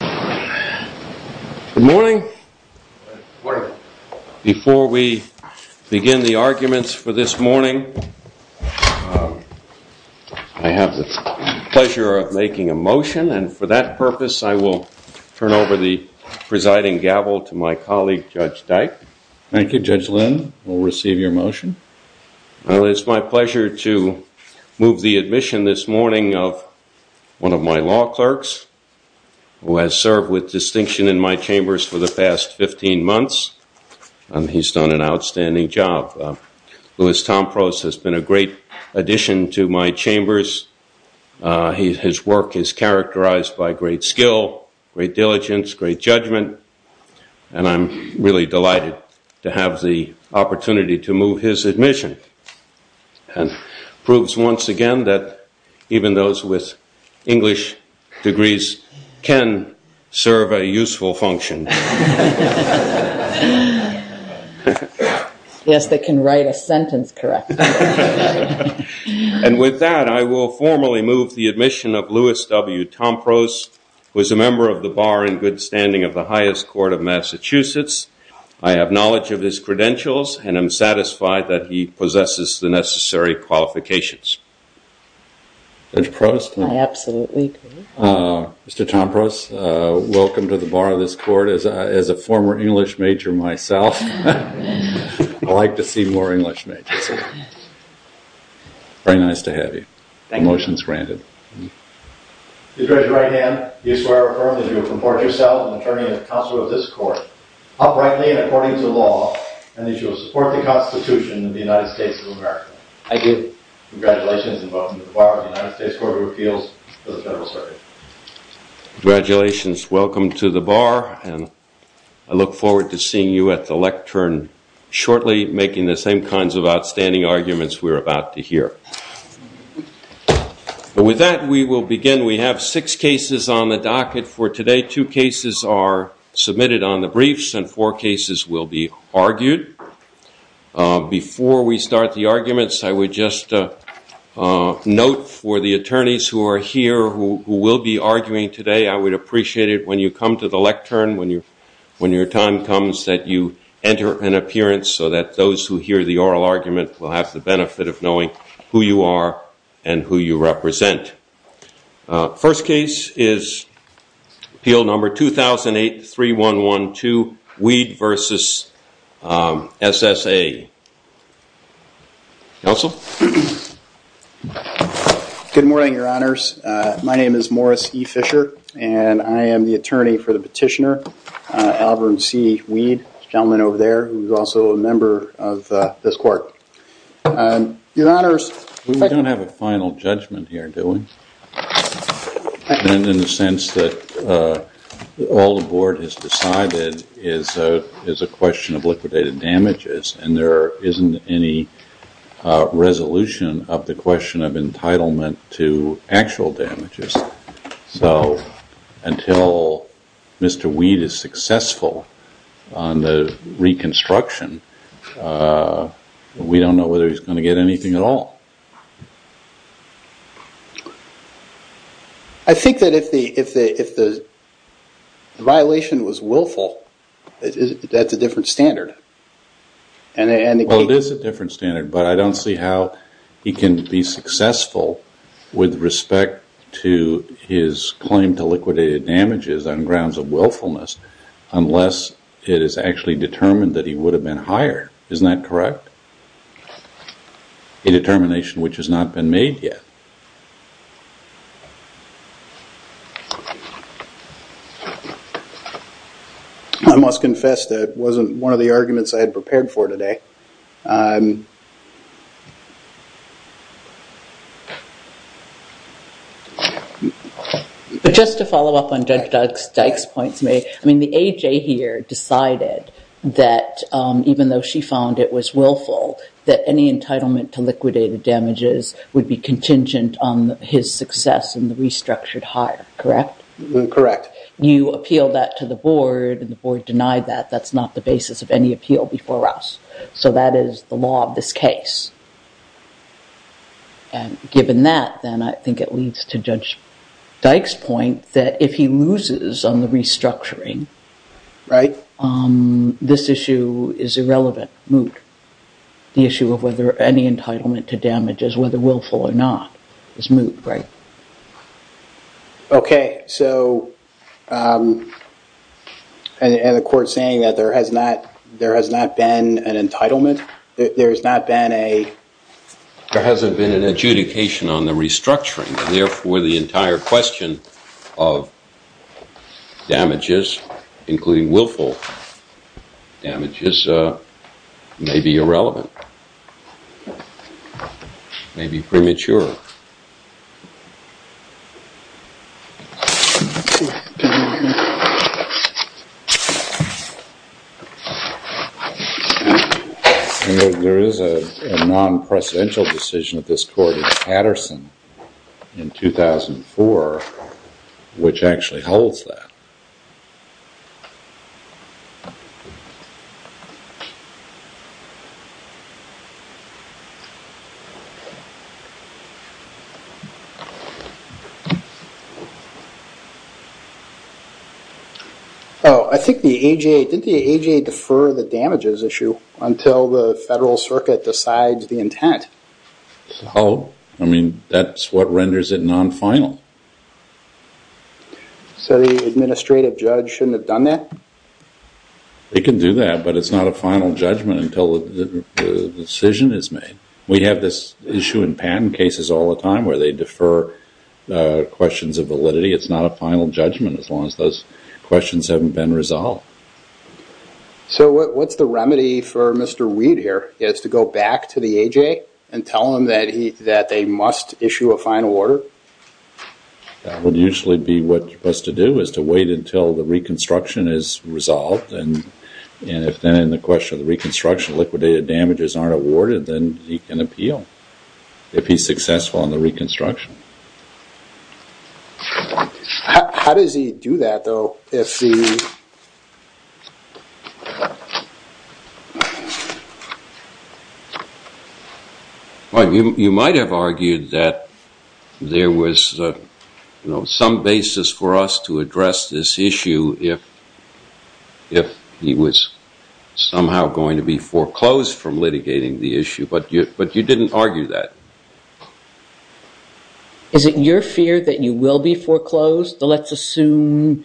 Good morning. Before we begin the arguments for this morning, I have the pleasure of making a motion, and for that purpose, I will turn over the presiding gavel to my colleague, Judge Dyke. Thank you, Judge Lynn. We'll receive your motion. Well, it's my pleasure to move the admission this morning of one of my law clerks, who has served with distinction in my chambers for the past 15 months, and he's done an outstanding job. Louis Tomprose has been a great addition to my chambers. His work is characterized by great skill, great diligence, great judgment, and I'm really delighted to have the opportunity to move his admission, and proves once again that even those with English degrees can serve a useful function. Yes, they can write a sentence correctly. And with that, I will formally move the admission of Louis W. Tomprose, who is a member of the bar in good standing of the highest court of Massachusetts. I have knowledge of his credentials, and I'm satisfied that he possesses the necessary qualifications. Absolutely. Mr. Tomprose, welcome to the bar of this court. As a former English major myself, I'd like to see more English majors. Very nice to have you. The motion is granted. Mr. Judge, in your right hand, do you swear or affirm that you will comport yourself, an attorney and counsel of this court, uprightly and according to law, and that you will support the Constitution of the United States of America? I do. Congratulations, and welcome to the bar of the United States Court of Appeals for the Federal Circuit. Congratulations. Welcome to the bar, and I look forward to seeing you at the lectern shortly, making the same kinds of outstanding arguments we're about to hear. With that, we will begin. We have six cases on the docket for today. Two cases are submitted on the briefs, and four cases will be argued. Before we start the arguments, I would just note for the attorneys who are here who will be arguing today, I would appreciate it when you come to the lectern, when your time comes, that you enter an appearance so that those who hear the oral argument will have the benefit of knowing who you are and who you represent. First case is appeal number 2008-3112, Weed v. SSA. Counsel? Good morning, Your Honors. My name is Morris E. Fisher, and I am the attorney for the petitioner, Albert C. Weed, the gentleman over there, who is also a member of this court. We don't have a final judgment here, do we? In the sense that all the board has decided is a question of liquidated damages, and there isn't any resolution of the question of entitlement to actual damages. So, until Mr. Weed is successful on the reconstruction, we don't know whether he's going to get anything at all. I think that if the violation was willful, that's a different standard. Well, it is a different standard, but I don't see how he can be successful with respect to his claim to liquidated damages on grounds of willfulness unless it is actually determined that he would have been hired. Isn't that correct? A determination which has not been made yet. I must confess that it wasn't one of the arguments I had prepared for today. But just to follow up on Judge Dykes' points, I mean, the AJ here decided that even though she found it was willful, that any entitlement to liquidated damages would be contingent on his success in the restructured hire, correct? Correct. You appeal that to the board, and the board denied that. That's not the basis of any appeal before us. So that is the law of this case. And given that, then I think it leads to Judge Dykes' point that if he loses on the restructuring, this issue is irrelevant, moot. The issue of whether any entitlement to damages, whether willful or not, is moot, right? OK. So and the court's saying that there has not been an entitlement? There's not been a… There hasn't been an adjudication on the restructuring. And therefore, the entire question of damages, including willful damages, may be irrelevant, may be premature. There is a non-presidential decision of this court in Patterson in 2004 which actually holds that. Oh, I think the AJA, did the AJA defer the damages issue until the Federal Circuit decides the intent? Oh, I mean, that's what renders it non-final. So the administrative judge shouldn't have done that? They can do that, but it's not a final judgment until the decision is made. We have this issue in patent cases all the time where they defer questions of validity. It's not a final judgment as long as those questions haven't been resolved. So what's the remedy for Mr. Weed here? He has to go back to the AJA and tell them that they must issue a final order? That would usually be what he has to do, is to wait until the reconstruction is resolved. And if then in the question of the reconstruction, liquidated damages aren't awarded, then he can appeal if he's successful in the reconstruction. How does he do that, though? You might have argued that there was some basis for us to address this issue if he was somehow going to be foreclosed from litigating the issue, but you didn't argue that. Is it your fear that you will be foreclosed? Let's assume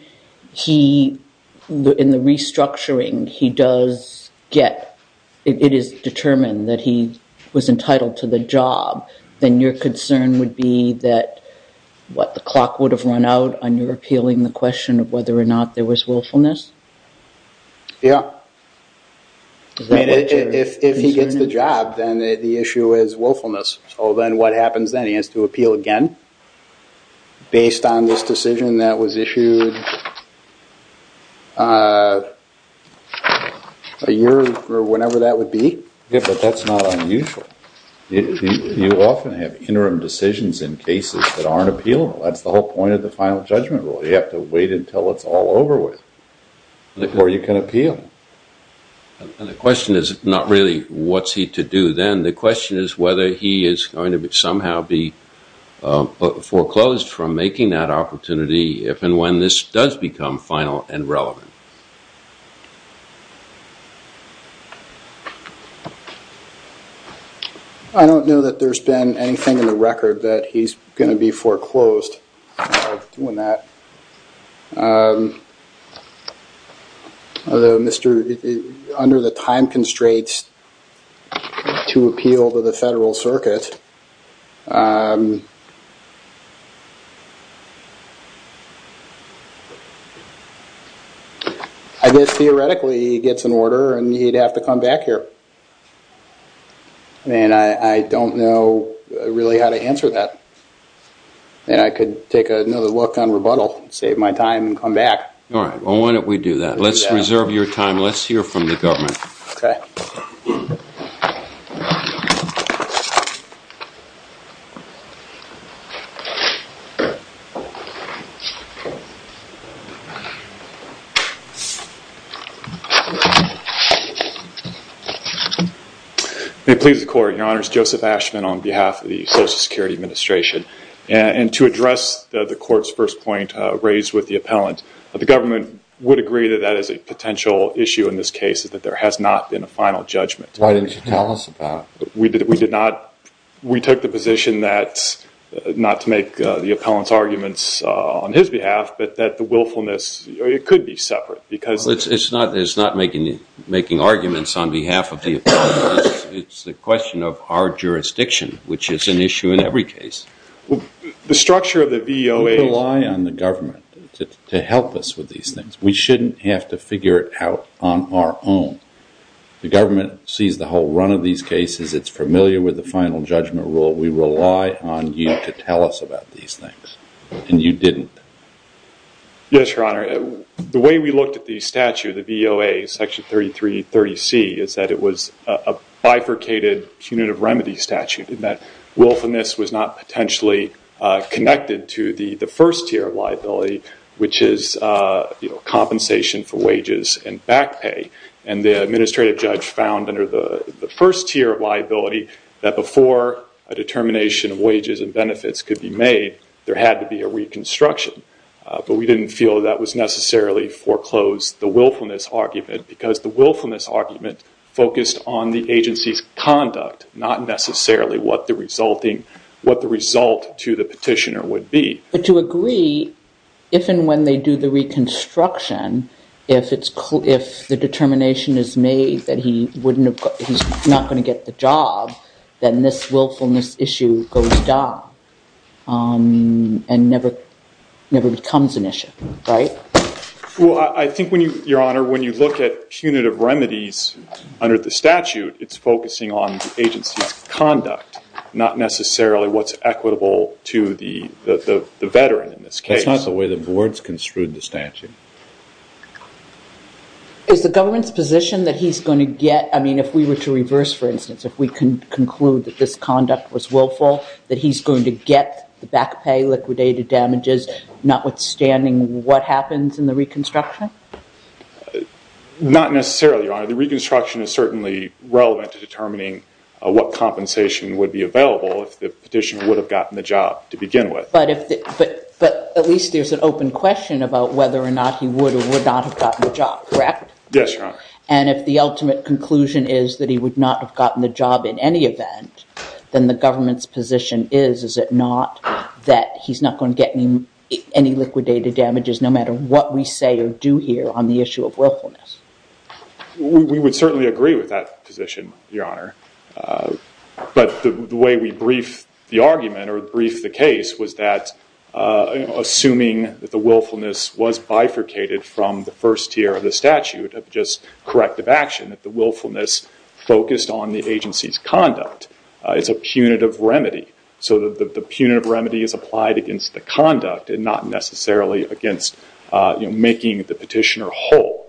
he, in the restructuring, he does get, it is determined that he was entitled to the job. Then your concern would be that, what, the clock would have run out on your appealing the question of whether or not there was willfulness? Yeah. If he gets the job, then the issue is willfulness. So then what happens then? He has to appeal again based on this decision that was issued a year or whenever that would be? Yeah, but that's not unusual. You often have interim decisions in cases that aren't appealable. That's the whole point of the final judgment rule. They have to wait until it's all over with before you can appeal. And the question is not really what's he to do then. The question is whether he is going to somehow be foreclosed from making that opportunity if and when this does become final and relevant. I don't know that there's been anything in the record that he's going to be foreclosed. Under the time constraints to appeal to the Federal Circuit, I guess theoretically he gets an order and he'd have to come back here. I don't know really how to answer that. I could take another look on rebuttal, save my time and come back. Why don't we do that? Let's reserve your time. Let's hear from the government. Okay. May it please the Court. Your Honor, it's Joseph Ashman on behalf of the Social Security Administration. And to address the Court's first point raised with the appellant, the government would agree that that is a potential issue in this case, that there has not been a final judgment. Why didn't you tell us about it? We took the position that, not to make the appellant's arguments on his behalf, but that the willfulness could be separate. It's not making arguments on behalf of the appellant. It's a question of our jurisdiction, which is an issue in every case. The structure of the VOA... We rely on the government to help us with these things. We shouldn't have to figure it out on our own. The government sees the whole run of these cases. It's familiar with the final judgment rule. We rely on you to tell us about these things. And you didn't. Yes, Your Honor. The way we looked at the statute, the VOA, Section 3330C, is that it was a bifurcated punitive remedy statute, in that willfulness was not potentially connected to the first tier of liability, which is compensation for wages and back pay. And the administrative judge found, under the first tier of liability, that before a determination of wages and benefits could be made, there had to be a reconstruction. But we didn't feel that was necessarily foreclosed, the willfulness argument, because the willfulness argument focused on the agency's conduct, not necessarily what the result to the petitioner would be. But to agree, if and when they do the reconstruction, if the determination is made that he's not going to get the job, then this willfulness issue goes down and never becomes an issue, right? Well, I think when you, Your Honor, when you look at punitive remedies under the statute, it's focusing on the agency's conduct, not necessarily what's equitable to the veteran in this case. That's not the way the board's construed the statute. Is the government's position that he's going to get, I mean, if we were to reverse, for instance, if we can conclude that this conduct was willful, that he's going to get the back pay, liquidated damages, notwithstanding what happens in the reconstruction? Not necessarily, Your Honor. The reconstruction is certainly relevant to determining what compensation would be available if the petitioner would have gotten the job to begin with. But at least there's an open question about whether or not he would or would not have gotten the job, correct? Yes, Your Honor. And if the ultimate conclusion is that he would not have gotten the job in any event, then the government's position is, is it not, that he's not going to get any liquidated damages, no matter what we say or do here on the issue of willfulness? We would certainly agree with that position, Your Honor. But the way we brief the argument or brief the case was that assuming that the willfulness was bifurcated from the first tier of the statute of just corrective action, that the willfulness focused on the agency's conduct. It's a punitive remedy. So the punitive remedy is applied against the conduct and not necessarily against making the petitioner whole.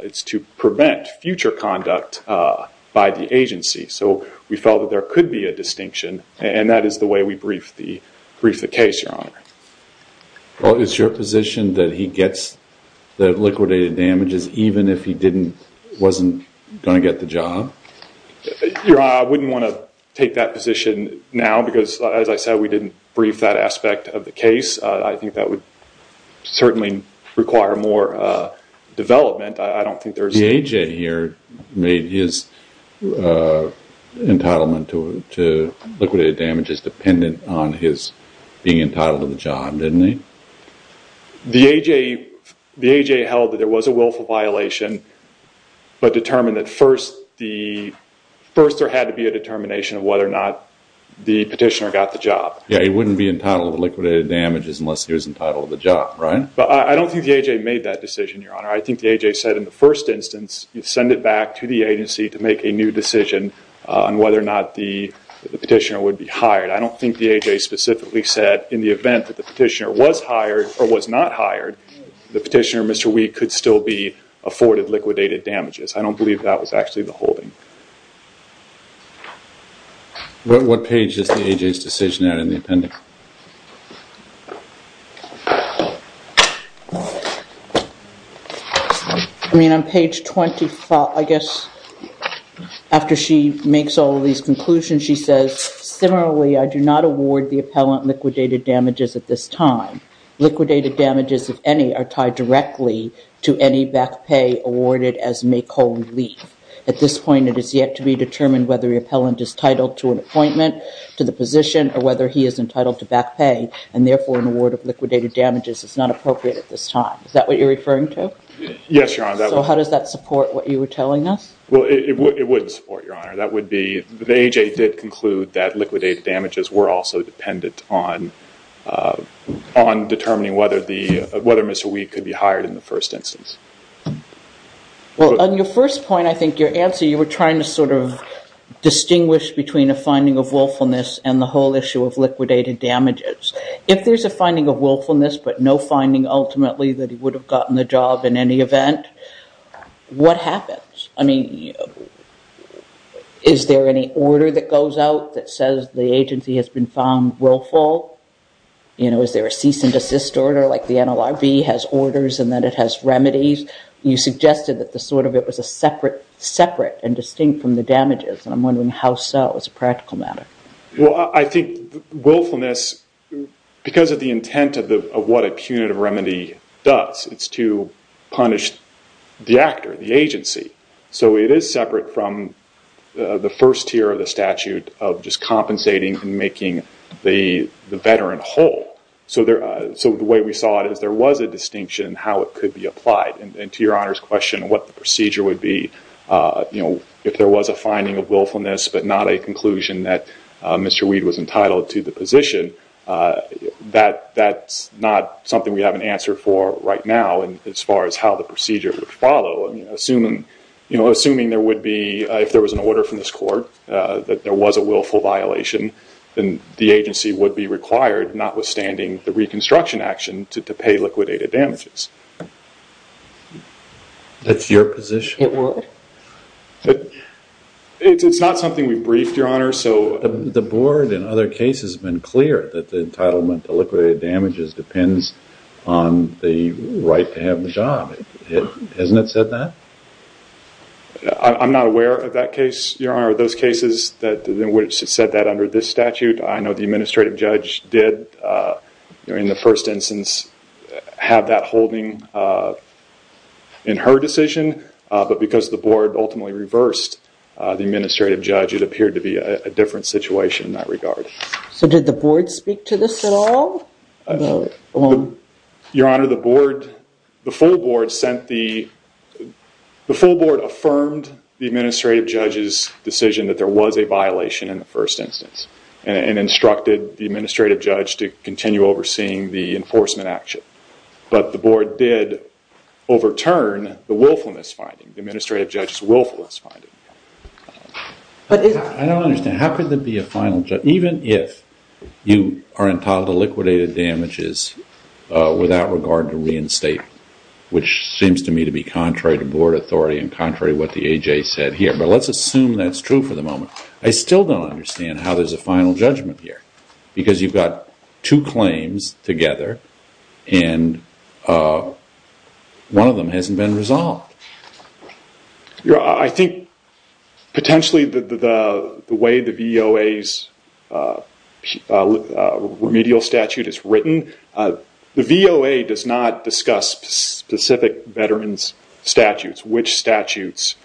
It's to prevent future conduct by the agency. So we felt that there could be a distinction, and that is the way we brief the case, Your Honor. Well, is your position that he gets the liquidated damages even if he wasn't going to get the job? Your Honor, I wouldn't want to take that position now because, as I said, we didn't brief that aspect of the case. I think that would certainly require more development. The A.J. here made his entitlement to liquidated damages dependent on his being entitled to the job, didn't he? The A.J. held that there was a willful violation but determined that first there had to be a determination of whether or not the petitioner got the job. Yeah, he wouldn't be entitled to liquidated damages unless he was entitled to the job, right? But I don't think the A.J. made that decision, Your Honor. I think the A.J. said in the first instance you send it back to the agency to make a new decision on whether or not the petitioner would be hired. I don't think the A.J. specifically said in the event that the petitioner was hired or was not hired, the petitioner, Mr. Week, could still be afforded liquidated damages. I don't believe that was actually the holding. What page is the A.J.'s decision in the appendix? I mean, on page 25, I guess, after she makes all of these conclusions, she says, similarly, I do not award the appellant liquidated damages at this time. Liquidated damages, if any, are tied directly to any back pay awarded as make-home leave. At this point, it is yet to be determined whether the appellant is titled to an appointment, to the position, or whether he is entitled to back pay, and therefore an award of liquidated damages is not appropriate at this time. Is that what you're referring to? Yes, Your Honor. So how does that support what you were telling us? Well, it would support, Your Honor. That would be, the A.J. did conclude that liquidated damages were also dependent on determining whether Mr. Week could be hired in the first instance. Well, on your first point, I think your answer, you were trying to sort of distinguish between a finding of willfulness and the whole issue of liquidated damages. If there's a finding of willfulness but no finding, ultimately, that he would have gotten the job in any event, what happens? I mean, is there any order that goes out that says the agency has been found willful? You know, is there a cease and desist order like the NLRB has orders and then it has remedies? You suggested that sort of it was separate and distinct from the damages, and I'm wondering how so as a practical matter. Well, I think willfulness, because of the intent of what a punitive remedy does, it's to punish the actor, the agency. So it is separate from the first tier of the statute of just compensating and making the veteran whole. So the way we saw it is there was a distinction in how it could be applied, and to Your Honor's question, what the procedure would be, you know, if there was a finding of willfulness but not a conclusion that Mr. Weed was entitled to the position, that's not something we have an answer for right now as far as how the procedure would follow. You know, assuming there would be, if there was an order from this court that there was a willful violation, then the agency would be required, notwithstanding the reconstruction action, to pay liquidated damages. That's your position? It's not something we've briefed, Your Honor. The board, in other cases, has been clear that the entitlement to liquidated damages depends on the right to have the job. Hasn't it said that? I'm not aware of that case, Your Honor, of those cases in which it said that under this statute. I know the administrative judge did, in the first instance, have that holding in her decision, but because the board ultimately reversed the administrative judge, it appeared to be a different situation in that regard. So did the board speak to this at all? Your Honor, the full board affirmed the administrative judge's decision that there was a violation in the first instance and instructed the administrative judge to continue overseeing the enforcement action, but the board did overturn the willfulness finding, the administrative judge's willfulness finding. I don't understand. How could there be a final judgment, even if you are entitled to liquidated damages without regard to reinstatement, which seems to me to be contrary to board authority and contrary to what the A.J. said here, but let's assume that's true for the moment. I still don't understand how there's a final judgment here because you've got two claims together and one of them hasn't been resolved. Your Honor, I think potentially the way the VOA's remedial statute is written, the VOA does not discuss specific veteran's statutes, which statutes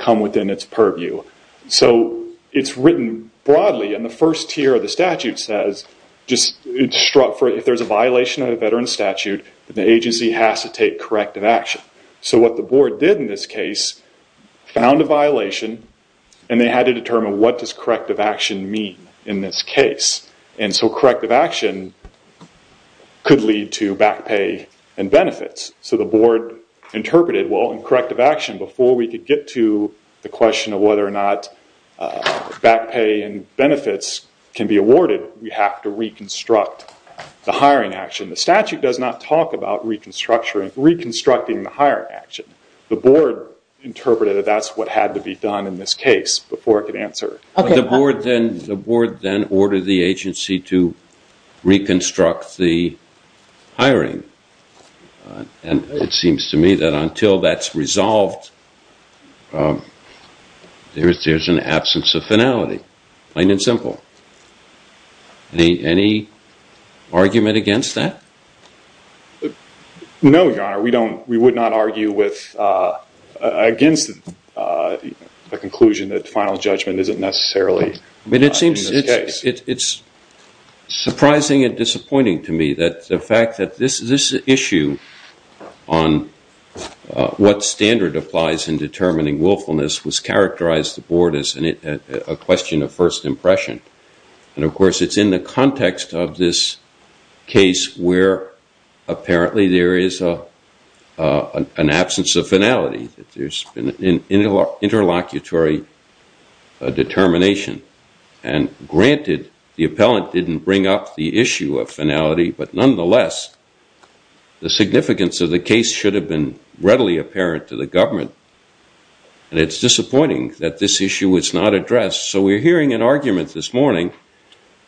come within its purview. So it's written broadly and the first tier of the statute says if there's a violation of a veteran's statute, the agency has to take corrective action. So what the board did in this case, found a violation and they had to determine what does corrective action mean in this case. And so corrective action could lead to back pay and benefits. So the board interpreted, well, in corrective action, before we could get to the question of whether or not back pay and benefits can be awarded, we have to reconstruct the hiring action. The statute does not talk about reconstructing the hiring action. The board interpreted that that's what had to be done in this case before it could answer. The board then ordered the agency to reconstruct the hiring. And it seems to me that until that's resolved, there's an absence of finality, plain and simple. Any argument against that? No, Your Honor. We would not argue against the conclusion that final judgment isn't necessarily in this case. It's surprising and disappointing to me that the fact that this issue on what standard applies in determining willfulness was characterized the board as a question of first impression. And of course, it's in the context of this case where apparently there is an absence of finality. There's been an interlocutory determination. And granted, the appellant didn't bring up the issue of finality, but nonetheless, the significance of the case should have been readily apparent to the government. And it's disappointing that this issue was not addressed. So we're hearing an argument this morning,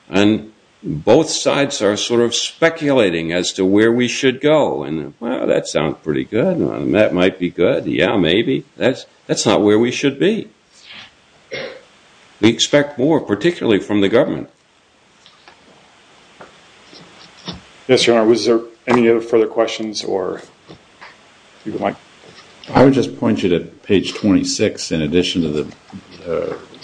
and both sides are sort of speculating as to where we should go. And, well, that sounds pretty good. That might be good. Yeah, maybe. That's not where we should be. We expect more, particularly from the government. Yes, Your Honor, was there any other further questions? I would just point you to page 26, in addition to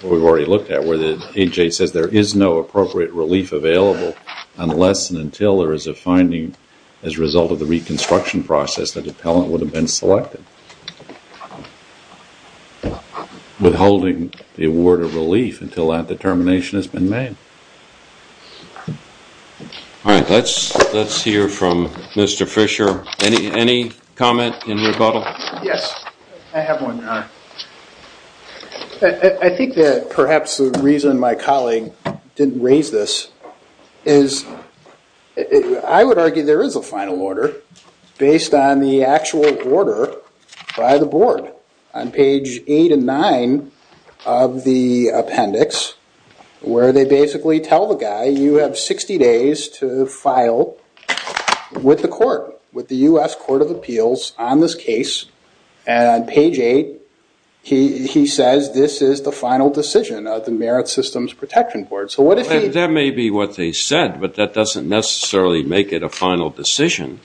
what we've already looked at, where the AHA says there is no appropriate relief available unless and until there is a finding as a result of the reconstruction process that the appellant would have been selected, withholding the award of relief until that determination has been made. All right, let's hear from Mr. Fisher. Any comment in rebuttal? Yes, I have one, Your Honor. I think that perhaps the reason my colleague didn't raise this is I would argue there is a final order based on the actual order by the board. On page 8 and 9 of the appendix, where they basically tell the guy, you have 60 days to file with the court, with the U.S. Court of Appeals on this case. And on page 8, he says this is the final decision of the Merit Systems Protection Board. That may be what they said, but that doesn't necessarily make it a final decision.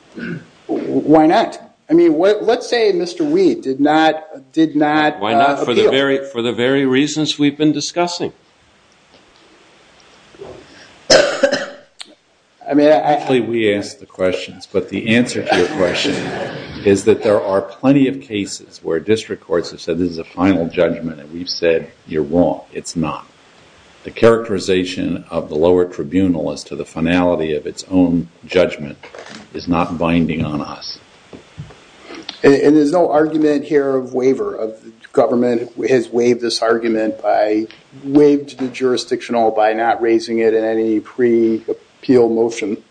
Why not? I mean, let's say Mr. Weed did not appeal. Why not? For the very reasons we've been discussing. Actually, we ask the questions, but the answer to your question is that there are plenty of cases where district courts have said this is a final judgment and we've said you're wrong. It's not. The characterization of the lower tribunal as to the finality of its own judgment is not binding on us. And there's no argument here of waiver. The government has waived this argument by waiving the jurisdictional by not raising it in any pre-appeal motion.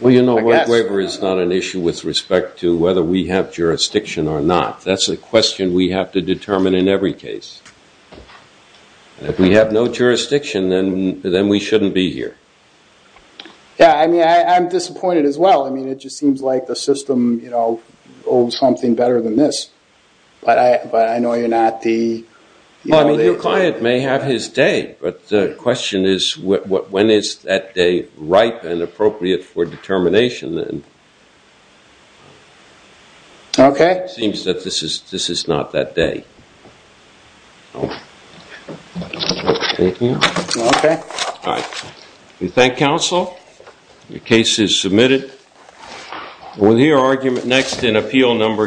Well, you know, waiver is not an issue with respect to whether we have jurisdiction or not. That's a question we have to determine in every case. If we have no jurisdiction, then we shouldn't be here. Yeah, I mean, I'm disappointed as well. I mean, it just seems like the system, you know, owes something better than this. But I know you're not the... Well, I mean, your client may have his day, but the question is when is that day ripe and appropriate for determination? Okay. It seems that this is not that day. Thank you. Okay. All right. We thank counsel. The case is submitted. We'll hear argument next in appeal number two.